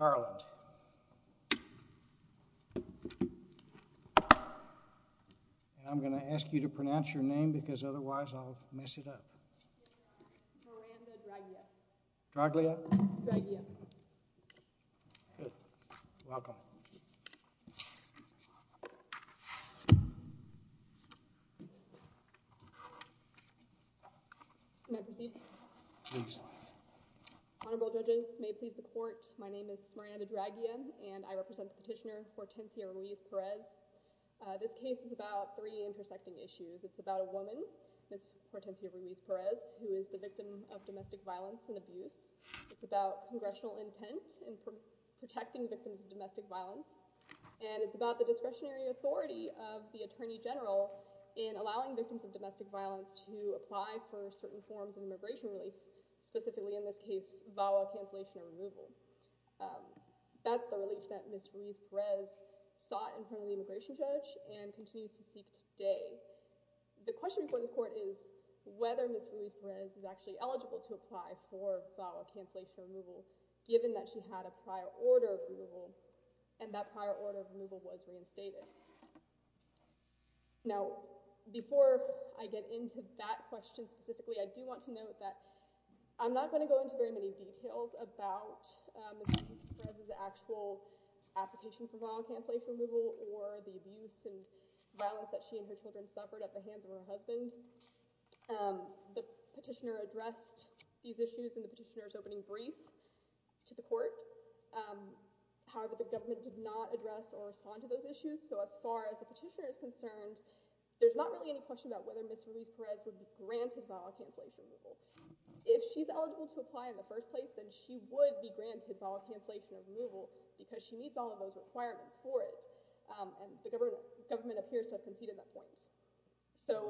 I'm going to ask you to pronounce your name because otherwise I'll mess it up. Miranda Draglia. Draglia? Draglia. Good. Welcome. May I proceed? Please. Honorable judges, may it please the court, my name is Miranda Draglia and I represent the petitioner Hortencia Ruiz-Perez. This case is about three intersecting issues. It's about a woman, Ms. Hortencia Ruiz-Perez, who is the victim of domestic violence and abuse. It's about congressional intent in protecting victims of domestic violence. And it's about the discretionary authority of the attorney general in allowing victims of domestic violence to apply for certain forms of immigration relief, specifically in this case, VAWA cancellation or removal. That's the relief that Ms. Ruiz-Perez sought in front of the immigration judge and continues to seek today. The question before this court is whether Ms. Ruiz-Perez is actually eligible to apply for VAWA cancellation or removal, given that she had a prior order of removal and that prior order of removal was reinstated. Now, before I get into that question specifically, I do want to note that I'm not going to go into very many details about Ms. Ruiz-Perez's actual application for VAWA cancellation or removal or the abuse and violence that she and her children suffered at the hands of her husband. The petitioner addressed these issues in the petitioner's opening brief to the court. However, the government did not address or respond to those issues. So as far as the petitioner is concerned, there's not really any question about whether Ms. Ruiz-Perez would be granted VAWA cancellation or removal. If she's eligible to apply in the first place, then she would be granted VAWA cancellation or removal because she meets all of those requirements for it. And the government appears to have conceded that point.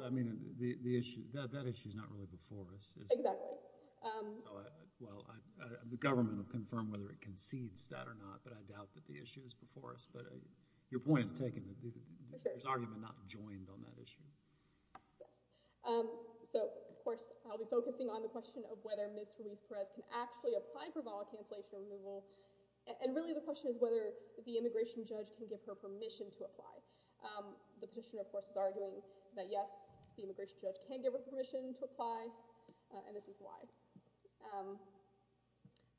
I mean, that issue is not really before us. Exactly. Well, the government will confirm whether it concedes that or not, but I doubt that the issue is before us. But your point is taken. There's argument not joined on that issue. So, of course, I'll be focusing on the question of whether Ms. Ruiz-Perez can actually apply for VAWA cancellation or removal. And really the question is whether the immigration judge can give her permission to apply. The petitioner, of course, is arguing that, yes, the immigration judge can give her permission to apply, and this is why.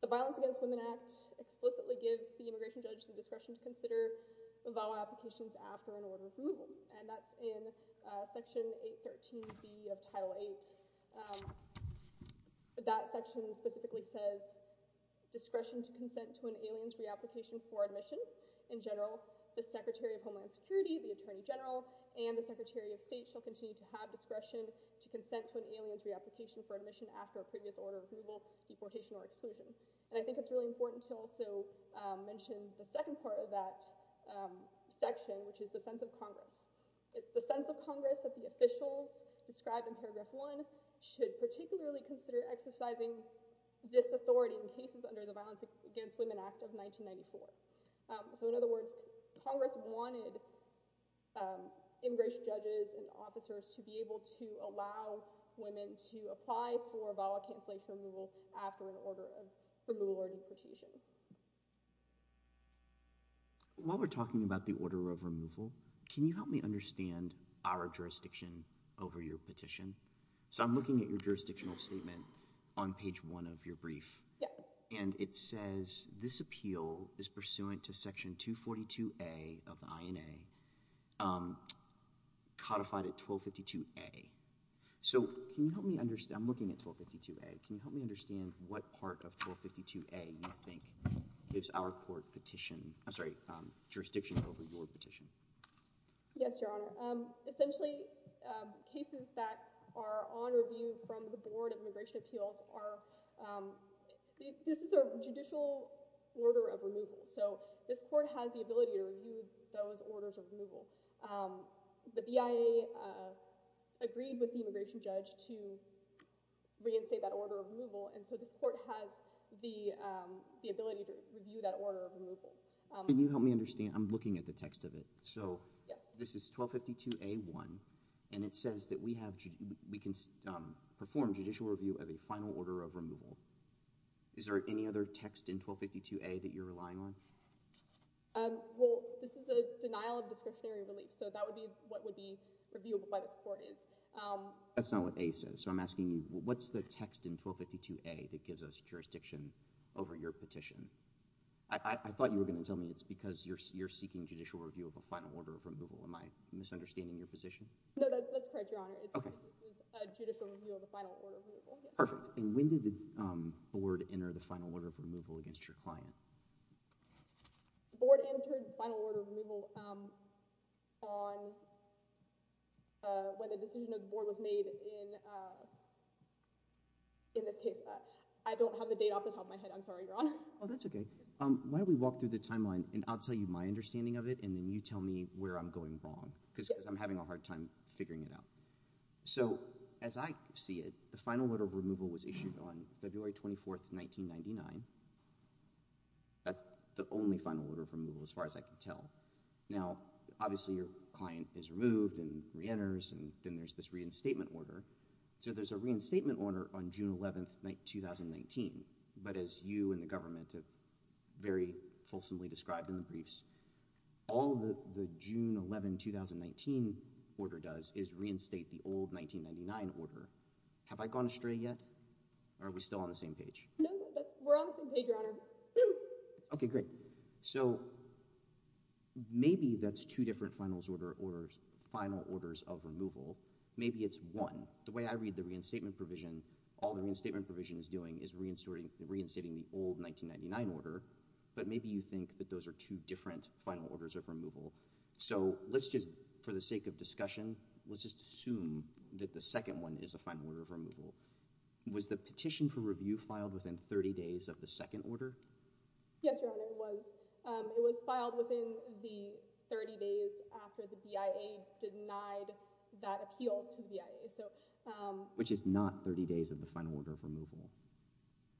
The Violence Against Women Act explicitly gives the immigration judge the discretion to consider VAWA applications after an order of removal. And that's in Section 813B of Title VIII. That section specifically says, Discretion to consent to an alien's reapplication for admission. In general, the Secretary of Homeland Security, the Attorney General, and the Secretary of State shall continue to have discretion to consent to an alien's reapplication for admission after a previous order of removal, deportation, or exclusion. And I think it's really important to also mention the second part of that section, which is the sense of Congress. It's the sense of Congress that the officials described in Paragraph 1 should particularly consider exercising this authority in cases under the Violence Against Women Act of 1994. So, in other words, Congress wanted immigration judges and officers to be able to allow women to apply for VAWA cancellation or removal after an order of removal or deportation. While we're talking about the order of removal, can you help me understand our jurisdiction over your petition? So I'm looking at your jurisdictional statement on page 1 of your brief. And it says this appeal is pursuant to Section 242A of the INA, codified at 1252A. So can you help me understand, I'm looking at 1252A, can you help me understand what part of 1252A you think gives our court jurisdiction over your petition? Yes, Your Honor. Essentially, cases that are on review from the Board of Immigration Appeals are, this is a judicial order of removal. So this court has the ability to review those orders of removal. The BIA agreed with the immigration judge to reinstate that order of removal, and so this court has the ability to review that order of removal. Can you help me understand, I'm looking at the text of it. So, this is 1252A1, and it says that we can perform judicial review of a final order of removal. Is there any other text in 1252A that you're relying on? Well, this is a denial of discretionary relief, so that would be what would be reviewable by this court. That's not what A says, so I'm asking you, what's the text in 1252A that gives us jurisdiction over your petition? I thought you were going to tell me it's because you're seeking judicial review of a final order of removal. Am I misunderstanding your position? No, that's correct, Your Honor. It's a judicial review of a final order of removal. Perfect. And when did the Board enter the final order of removal against your client? The Board entered the final order of removal when the decision of the Board was made in this case. I don't have the date off the top of my head. I'm sorry, Your Honor. Oh, that's okay. Why don't we walk through the timeline, and I'll tell you my understanding of it, and then you tell me where I'm going wrong. Because I'm having a hard time figuring it out. So, as I see it, the final order of removal was issued on February 24, 1999. That's the only final order of removal, as far as I can tell. Now, obviously, your client is removed and reenters, and then there's this reinstatement order. So there's a reinstatement order on June 11, 2019, but as you and the government have very fulsomely described in the briefs, all the June 11, 2019 order does is reinstate the old 1999 order. Have I gone astray yet, or are we still on the same page? No, we're on the same page, Your Honor. Okay, great. So, maybe that's two different final orders of removal. Maybe it's one. The way I read the reinstatement provision, all the reinstatement provision is doing is reinstating the old 1999 order. But maybe you think that those are two different final orders of removal. So, let's just, for the sake of discussion, let's just assume that the second one is a final order of removal. Was the petition for review filed within 30 days of the second order? Yes, Your Honor, it was. It was filed within the 30 days after the BIA denied that appeal to the BIA.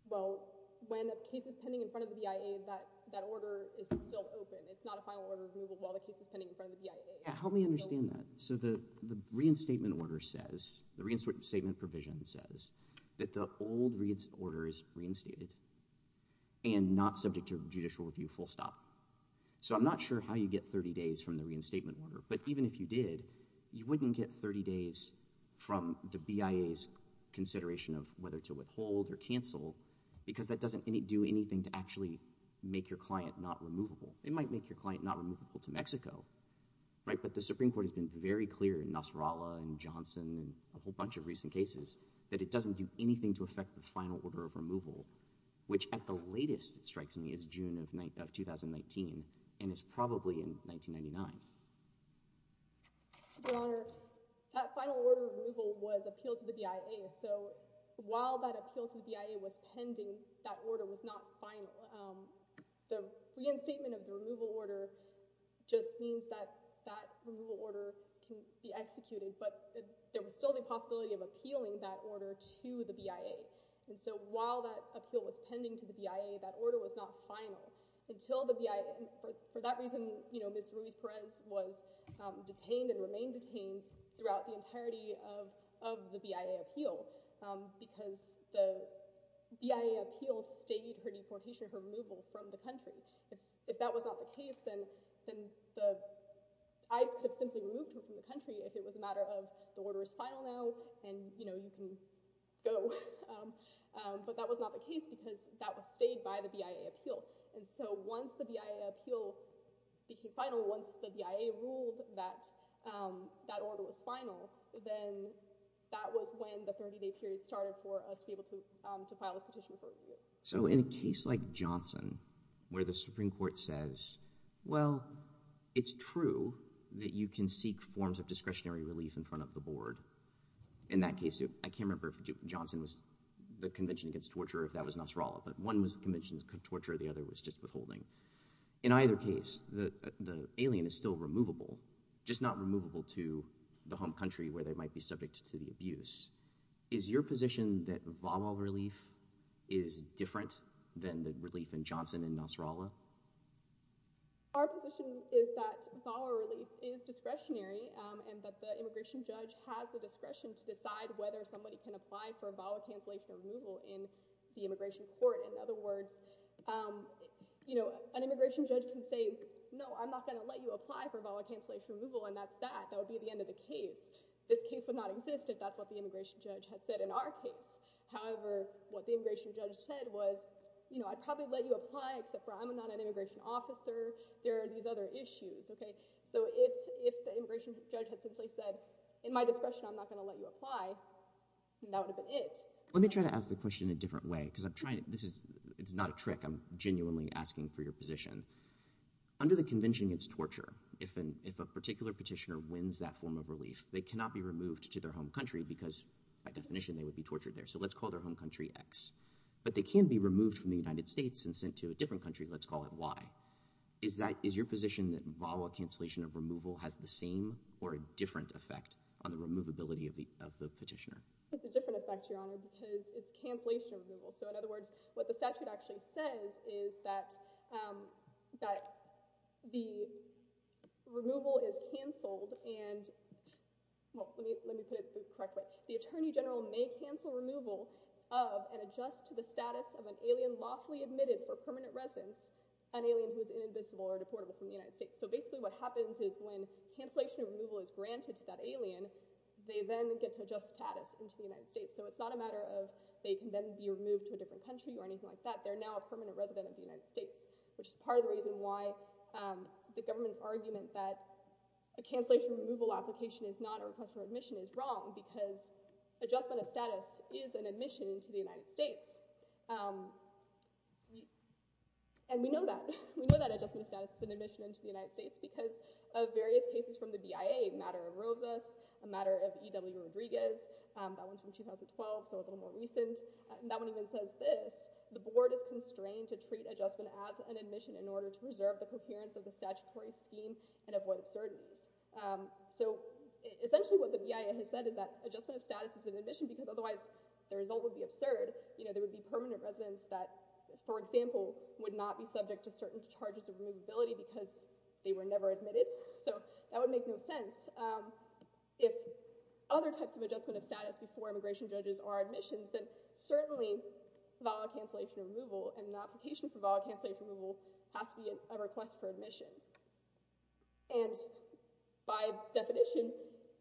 Well, when a case is pending in front of the BIA, that order is still open. It's not a final order of removal while the case is pending in front of the BIA. Help me understand that. So, the reinstatement order says, the reinstatement provision says, that the old order is reinstated and not subject to judicial review full stop. So, I'm not sure how you get 30 days from the reinstatement order, but even if you did, you wouldn't get 30 days from the BIA's consideration of whether to withhold or cancel because that doesn't do anything to actually make your client not removable. It might make your client not removable to Mexico, right? But the Supreme Court has been very clear in Nasrallah and Johnson and a whole bunch of recent cases that it doesn't do anything to affect the final order of removal, which at the latest, it strikes me, is June of 2019 and is probably in 1999. Your Honor, that final order of removal was appealed to the BIA. So, while that appeal to the BIA was pending, that order was not final. The reinstatement of the removal order just means that that removal order can be executed, but there was still the possibility of appealing that order to the BIA. And so, while that appeal was pending to the BIA, that order was not final. For that reason, Ms. Ruiz-Perez was detained and remained detained throughout the entirety of the BIA appeal because the BIA appeal stayed her deportation, her removal from the country. If that was not the case, then ICE could have simply removed her from the country if it was a matter of the order is final now and you can go. But that was not the case because that was stayed by the BIA appeal. And so, once the BIA appeal became final, once the BIA ruled that that order was final, then that was when the 30-day period started for us to be able to file a petition for removal. So, in a case like Johnson, where the Supreme Court says, well, it's true that you can seek forms of discretionary relief in front of the board. In that case, I can't remember if Johnson was the Convention Against Torture or if that was Nasrallah, but one was the Convention Against Torture and the other was just withholding. In either case, the alien is still removable, just not removable to the home country where they might be subject to the abuse. Is your position that VAWA relief is different than the relief in Johnson and Nasrallah? Our position is that VAWA relief is discretionary and that the immigration judge has the discretion to decide whether somebody can apply for VAWA cancellation or removal in the immigration court. In other words, an immigration judge can say, no, I'm not going to let you apply for VAWA cancellation or removal and that's that. That would be the end of the case. This case would not exist if that's what the immigration judge had said in our case. However, what the immigration judge said was, I'd probably let you apply except for I'm not an immigration officer. There are these other issues. If the immigration judge had simply said, in my discretion, I'm not going to let you apply, that would have been it. Let me try to ask the question in a different way because it's not a trick. I'm genuinely asking for your position. Under the Convention Against Torture, if a particular petitioner wins that form of relief, they cannot be removed to their home country because, by definition, they would be tortured there. So let's call their home country X. But they can be removed from the United States and sent to a different country. Let's call it Y. Is your position that VAWA cancellation or removal has the same or different effect on the removability of the petitioner? It's a different effect, Your Honor, because it's cancellation or removal. In other words, what the statute actually says is that the removal is canceled and— well, let me put it the correct way. The attorney general may cancel removal of and adjust to the status of an alien who has been lawfully admitted for permanent residence, an alien who is inadmissible or deportable from the United States. So basically what happens is when cancellation or removal is granted to that alien, they then get to adjust status into the United States. So it's not a matter of they can then be removed to a different country or anything like that. They're now a permanent resident of the United States, which is part of the reason why the government's argument that a cancellation or removal application is not a request for admission is wrong because adjustment of status is an admission into the United States. And we know that. We know that adjustment of status is an admission into the United States because of various cases from the BIA, a matter of Rosas, a matter of E.W. Rodriguez. That one's from 2012, so a little more recent. That one even says this. The board is constrained to treat adjustment as an admission in order to preserve the coherence of the statutory scheme and avoid absurdities. So essentially what the BIA has said is that adjustment of status is an admission because otherwise the result would be absurd. You know, there would be permanent residents that, for example, would not be subject to certain charges of removability because they were never admitted. So that would make no sense. If other types of adjustment of status before immigration judges are admissions, then certainly valid cancellation or removal and an application for valid cancellation or removal has to be a request for admission. And by definition,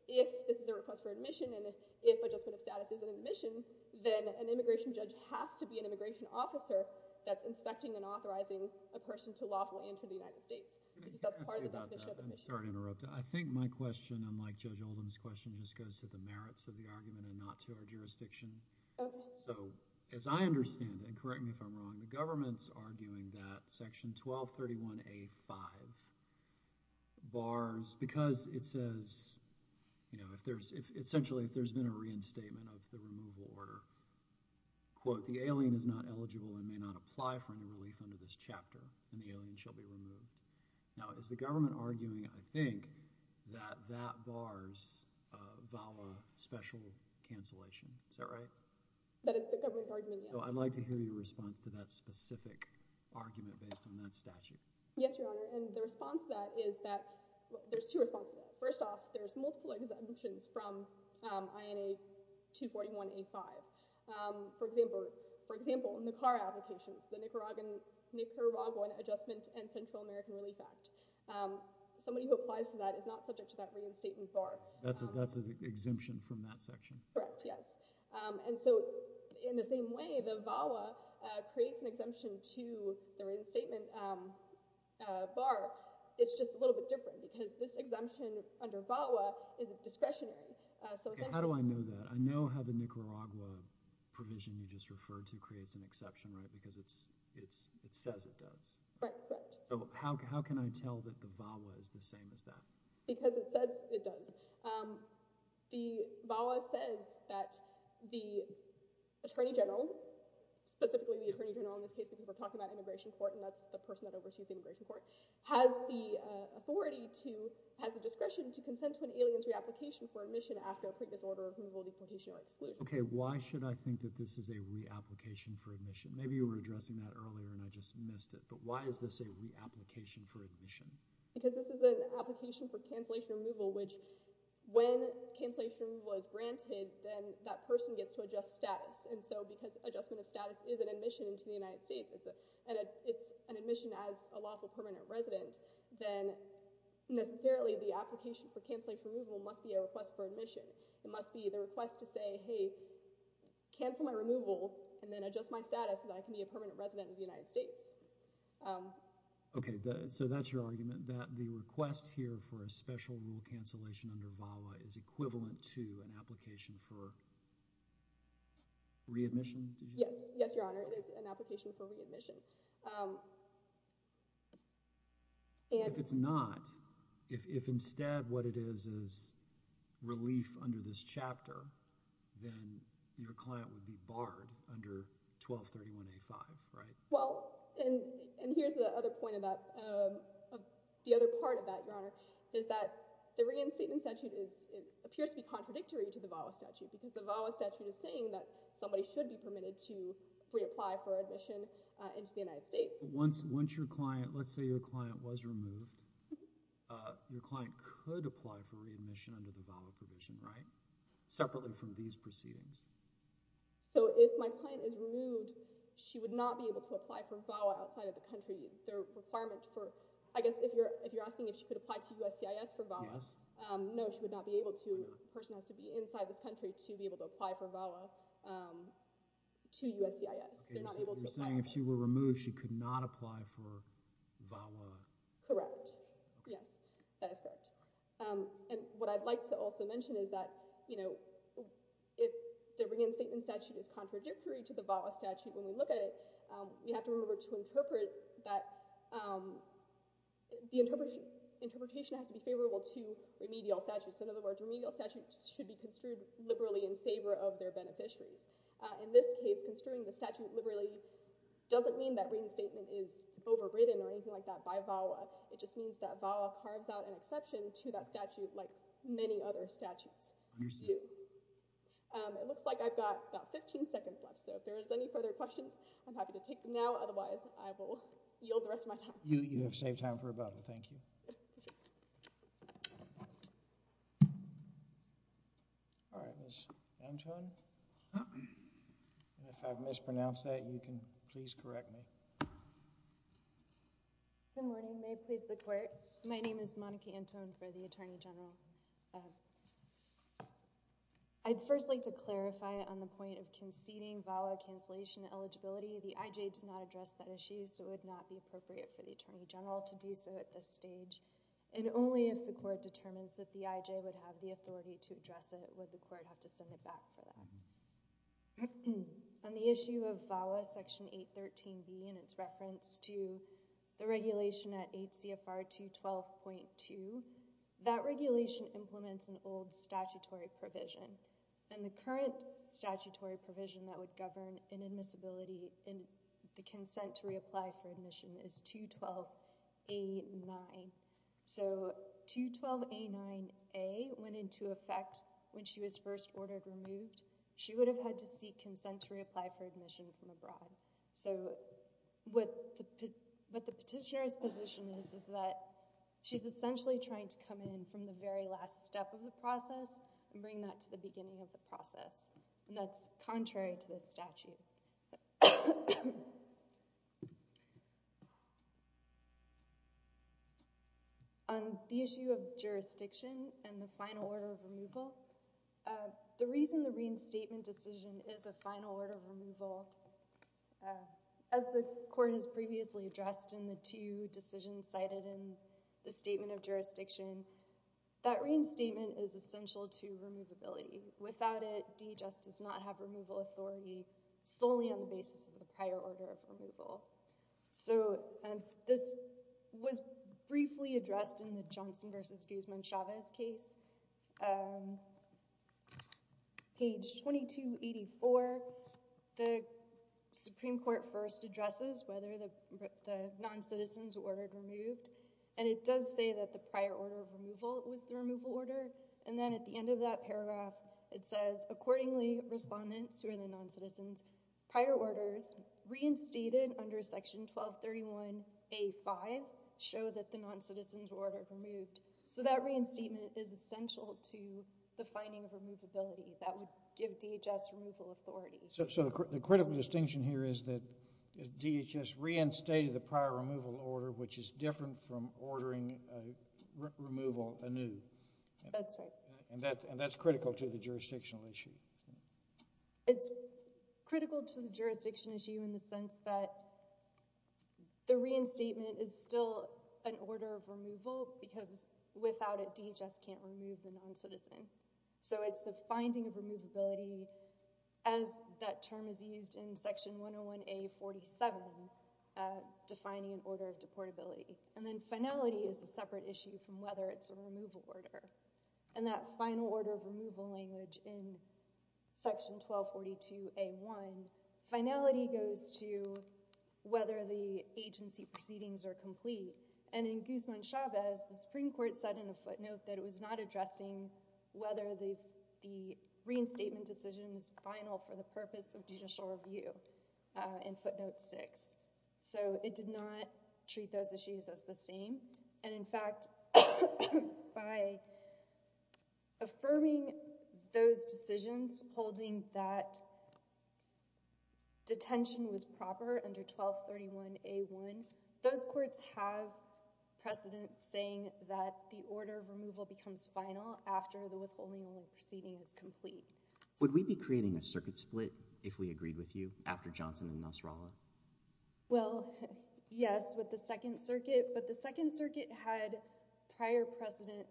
if this is a request for admission and if adjustment of status is an admission, then an immigration judge has to be an immigration officer that's inspecting and authorizing a person to lawfully enter the United States because that's part of the definition of admission. I'm sorry to interrupt. I think my question, unlike Judge Oldham's question, just goes to the merits of the argument and not to our jurisdiction. Okay. So as I understand, and correct me if I'm wrong, the government's arguing that Section 1231A.5 bars because it says, you know, essentially if there's been a reinstatement of the removal order, quote, the alien is not eligible and may not apply for any relief under this chapter and the alien shall be removed. Now, is the government arguing, I think, that that bars VAWA special cancellation? Is that right? That is the government's argument, yes. So I'd like to hear your response to that specific argument based on that statute. Yes, Your Honor. And the response to that is that there's two responses to that. For example, NICAR applications, the Nicaraguan Adjustment and Central American Relief Act. Somebody who applies for that is not subject to that reinstatement bar. That's an exemption from that section. Correct, yes. And so in the same way the VAWA creates an exemption to the reinstatement bar, it's just a little bit different because this exemption under VAWA is discretionary. How do I know that? I know how the Nicaragua provision you just referred to creates an exception, right? Because it says it does. Correct, correct. So how can I tell that the VAWA is the same as that? Because it says it does. The VAWA says that the Attorney General, specifically the Attorney General in this case because we're talking about immigration court and that's the person that oversees the immigration court, has the authority to, has the discretion to consent to an alien's reapplication for admission after a previous order of removal, deportation, or exclusion. Okay, why should I think that this is a reapplication for admission? Maybe you were addressing that earlier and I just missed it. But why is this a reapplication for admission? Because this is an application for cancellation removal, which when cancellation removal is granted, then that person gets to adjust status. And so because adjustment of status is an admission into the United States, and it's an admission as a lawful permanent resident, then necessarily the application for cancellation removal must be a request for admission. It must be the request to say, hey, cancel my removal and then adjust my status so that I can be a permanent resident of the United States. Okay, so that's your argument that the request here for a special rule cancellation under VAWA is equivalent to an application for readmission? Yes, Your Honor, it is an application for readmission. If it's not, if instead what it is is relief under this chapter, then your client would be barred under 1231A5, right? Well, and here's the other point of that, the other part of that, Your Honor, is that the reinstatement statute appears to be contradictory to the VAWA statute because the VAWA statute is saying that somebody should be permitted to reapply for admission into the United States. Once your client, let's say your client was removed, your client could apply for readmission under the VAWA provision, right? Separately from these proceedings. So if my client is removed, she would not be able to apply for VAWA outside of the country. The requirement for, I guess if you're asking if she could apply to USCIS for VAWA, no, she would not be able to. The person has to be inside this country to be able to apply for VAWA to USCIS. You're saying if she were removed, she could not apply for VAWA? Correct. Yes, that is correct. And what I'd like to also mention is that, you know, if the reinstatement statute is contradictory to the VAWA statute when we look at it, we have to remember to interpret that the interpretation has to be favorable to remedial statutes. In other words, remedial statutes should be construed liberally in favor of their beneficiaries. In this case, construing the statute liberally doesn't mean that reinstatement is overridden or anything like that by VAWA. It just means that VAWA carves out an exception to that statute like many other statutes do. It looks like I've got about 15 seconds left. So if there is any further questions, I'm happy to take them now. Otherwise, I will yield the rest of my time. You have saved time for a bubble. Thank you. All right, Ms. Anton. If I've mispronounced that, you can please correct me. Good morning. May it please the Court. My name is Monica Anton for the Attorney General. I'd first like to clarify on the point of conceding VAWA cancellation eligibility. The IJ did not address that issue, so it would not be appropriate for the Attorney General to do so at this stage. And only if the Court determines that the IJ would have the authority to address it would the Court have to send it back for that. On the issue of VAWA Section 813B and its reference to the regulation at 8 CFR 212.2, that regulation implements an old statutory provision. And the current statutory provision that would govern inadmissibility in the consent to reapply for admission is 212.A.9. So 212.A.9.A went into effect when she was first ordered removed. She would have had to seek consent to reapply for admission from abroad. So what the petitioner's position is is that she's essentially trying to come in from the very last step of the process and bring that to the beginning of the process. And that's contrary to the statute. On the issue of jurisdiction and the final order of removal, the reason the reinstatement decision is a final order of removal, as the Court has previously addressed in the two decisions cited in the Statement of Jurisdiction, that reinstatement is essential to removability. Without it, D just does not have removal authority solely on the basis of the prior order of removal. So this was briefly addressed in the Johnson v. Guzman-Chavez case. On page 2284, the Supreme Court first addresses whether the noncitizens were ordered removed. And it does say that the prior order of removal was the removal order. And then at the end of that paragraph, it says, Accordingly, Respondents, who are the noncitizens, prior orders reinstated under Section 1231A.5 show that the noncitizens were ordered removed. So that reinstatement is essential to the finding of removability. That would give DHS removal authority. So the critical distinction here is that DHS reinstated the prior removal order, which is different from ordering removal anew. That's right. And that's critical to the jurisdictional issue. It's critical to the jurisdiction issue in the sense that the reinstatement is still an order of removal because without it, DHS can't remove the noncitizen. So it's the finding of removability, as that term is used in Section 101A.47, defining an order of deportability. And then finality is a separate issue from whether it's a removal order. And that final order of removal language in Section 1242A.1, finality goes to whether the agency proceedings are complete. And in Guzman-Chavez, the Supreme Court said in a footnote that it was not addressing whether the reinstatement decision is final for the purpose of judicial review in footnote 6. So it did not treat those issues as the same. And in fact, by affirming those decisions, holding that detention was proper under 1231A.1, those courts have precedent saying that the order of removal becomes final after the withholding of the proceedings is complete. Would we be creating a circuit split if we agreed with you after Johnson and Nasrallah? Well, yes, with the Second Circuit. But the Second Circuit had prior precedent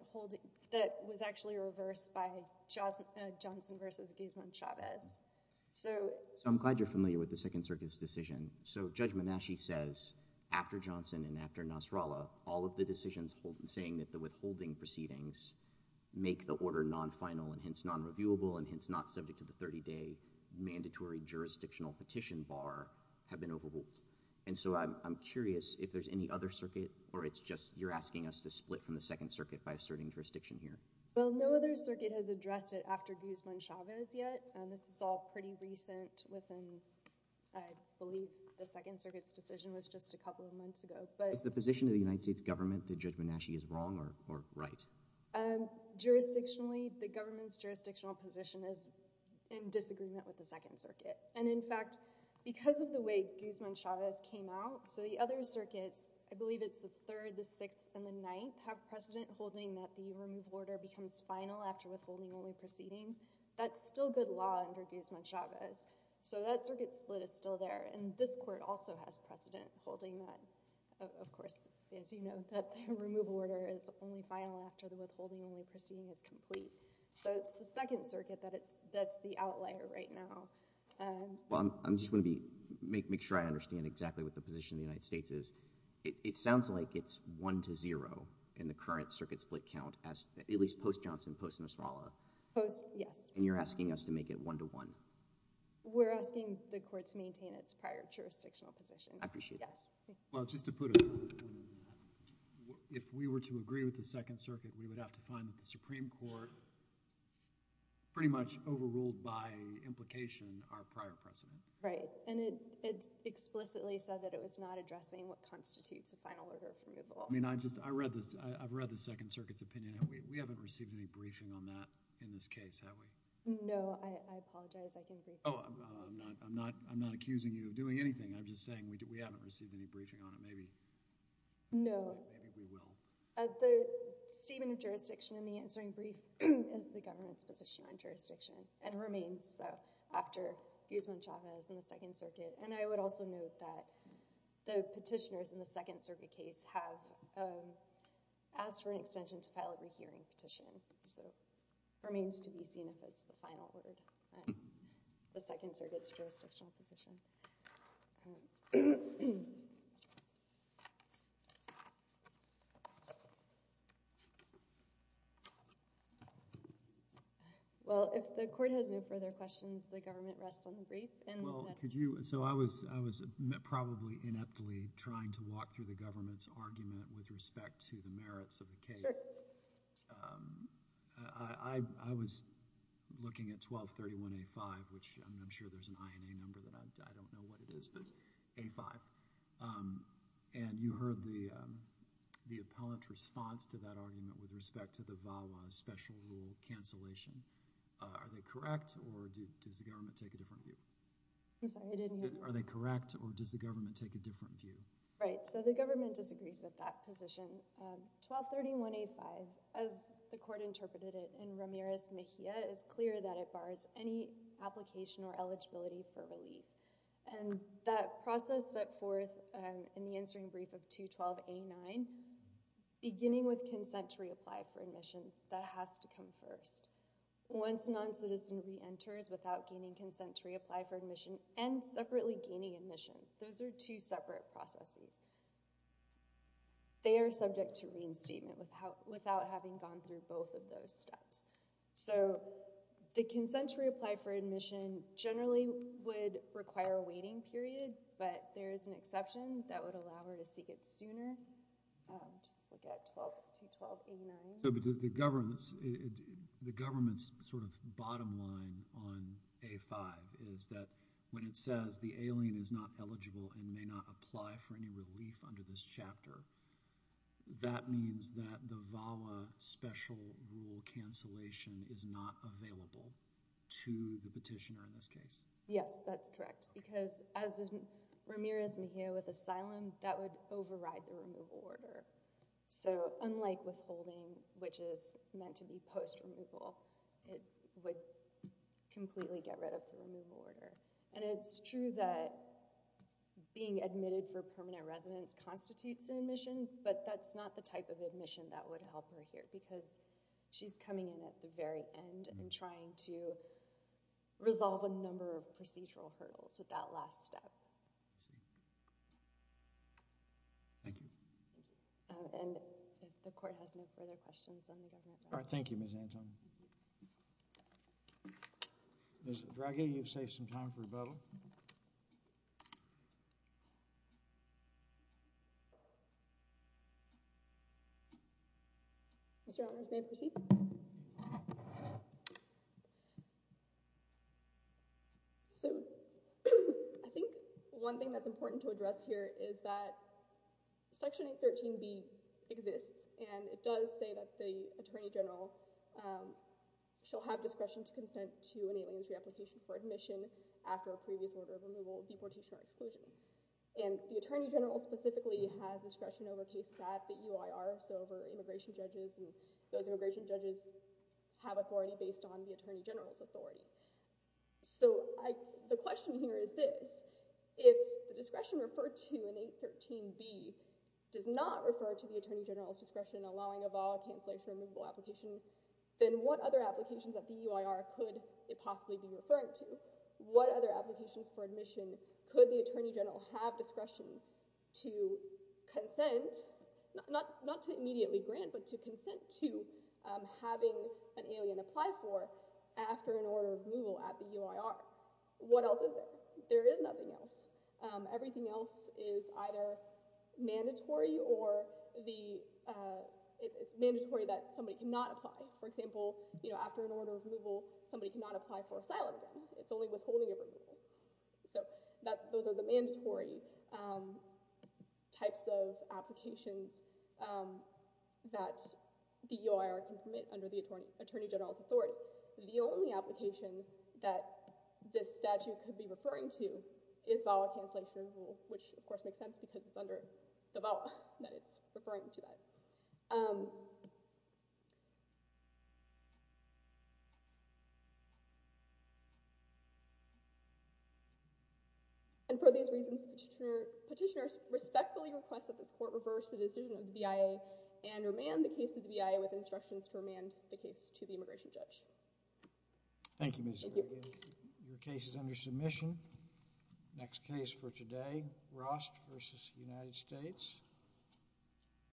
that was actually reversed by Johnson versus Guzman-Chavez. So I'm glad you're familiar with the Second Circuit's decision. So Judge Menasche says after Johnson and after Nasrallah, all of the decisions saying that the withholding proceedings make the order non-final and hence non-reviewable and hence not subject to the 30-day mandatory jurisdictional petition bar have been overruled. And so I'm curious if there's any other circuit, or it's just you're asking us to split from the Second Circuit by asserting jurisdiction here. Well, no other circuit has addressed it after Guzman-Chavez yet. This is all pretty recent within, I believe, the Second Circuit's decision was just a couple of months ago. Is the position of the United States government that Judge Menasche is wrong or right? Jurisdictionally, the government's jurisdictional position is in disagreement with the Second Circuit. And in fact, because of the way Guzman-Chavez came out, so the other circuits, I believe it's the Third, the Sixth, and the Ninth, have precedent holding that the remove order becomes final after withholding only proceedings. That's still good law under Guzman-Chavez. So that circuit split is still there. And this court also has precedent holding that, of course, as you know, that the remove order is only final after the withholding only proceeding is complete. So it's the Second Circuit that's the outlier right now. Well, I'm just going to make sure I understand exactly what the position of the United States is. It sounds like it's 1-0 in the current circuit split count, at least post-Johnson, post-Nosralla. Post, yes. And you're asking us to make it 1-1. We're asking the court to maintain its prior jurisdictional position. I appreciate that. Yes. Well, just to put it, if we were to agree with the Second Circuit, we would have to find that the Supreme Court pretty much overruled by implication our prior precedent. Right. And it explicitly said that it was not addressing what constitutes a final order of removal. I've read the Second Circuit's opinion. We haven't received any briefing on that in this case, have we? No. I apologize. I can brief you. Oh, I'm not accusing you of doing anything. I'm just saying we haven't received any briefing on it. Maybe we will. The statement of jurisdiction in the answering brief is the government's position on jurisdiction and remains so after Guzman-Chavez in the Second Circuit. And I would also note that the petitioners in the Second Circuit case have asked for an extension to file a rehearing petition, so it remains to be seen if it's the final word on the Second Circuit's jurisdictional position. Well, if the Court has no further questions, the government rests on the brief. Well, could you – so I was probably ineptly trying to walk through the government's argument with respect to the merits of the case. Sure. I was looking at 1231A5, which I'm sure there's an INA number that I don't know what it is, but A5. And you heard the appellant's response to that argument with respect to the VAWA special rule cancellation. Are they correct, or does the government take a different view? I'm sorry, I didn't hear you. Are they correct, or does the government take a different view? Right. So the government disagrees with that position. 1231A5, as the Court interpreted it in Ramirez-Mejia, is clear that it bars any application or eligibility for relief. And that process set forth in the answering brief of 212A9, beginning with consent to reapply for admission, that has to come first. Once noncitizen reenters without gaining consent to reapply for admission and separately gaining admission, those are two separate processes. They are subject to reinstatement without having gone through both of those steps. So the consent to reapply for admission generally would require a waiting period, but there is an exception that would allow her to seek it sooner. Just look at 212A9. So the government's sort of bottom line on A5 is that when it says the alien is not eligible and may not apply for any relief under this chapter, that means that the VAWA special rule cancellation is not available to the petitioner in this case. Yes, that's correct. Because as in Ramirez-Mejia with asylum, that would override the removal order. So unlike withholding, which is meant to be post-removal, it would completely get rid of the removal order. And it's true that being admitted for permanent residence constitutes an admission, but that's not the type of admission that would help her here because she's coming in at the very end and trying to resolve a number of procedural hurdles with that last step. I see. Thank you. And if the court has no further questions on the government document. All right, thank you, Ms. Antoni. Ms. Draghi, you've saved some time for rebuttal. Mr. Honors, may I proceed? So I think one thing that's important to address here is that Section 813B exists. And it does say that the attorney general shall have discretion to consent to an alien entry application for admission after a previous order of removal, deportation, or exclusion. And the attorney general specifically has discretion over case stat that UIRs over immigration judges. And those immigration judges have authority based on the attorney general's authority. So the question here is this. If the discretion referred to in 813B does not refer to the attorney general's discretion allowing a valid cancellation removal application, then what other applications at the UIR could it possibly be referring to? What other applications for admission could the attorney general have discretion to consent, not to immediately grant, but to consent to having an alien apply for after an order of removal at the UIR? What else is there? There is nothing else. Everything else is either mandatory or it's mandatory that somebody cannot apply. For example, after an order of removal, somebody cannot apply for asylum again. It's only withholding of removal. So those are the mandatory types of applications that the UIR can permit under the attorney general's authority. The only application that this statute could be referring to is valid cancellation rule, which of course makes sense because it's under the VAWA that it's referring to that. And for these reasons, petitioners respectfully request that this court reverse the decision of the BIA and remand the case to the BIA with instructions to remand the case to the immigration judge. Thank you, Ms. Brady. Your case is under submission. Next case for today, Rost v. United States.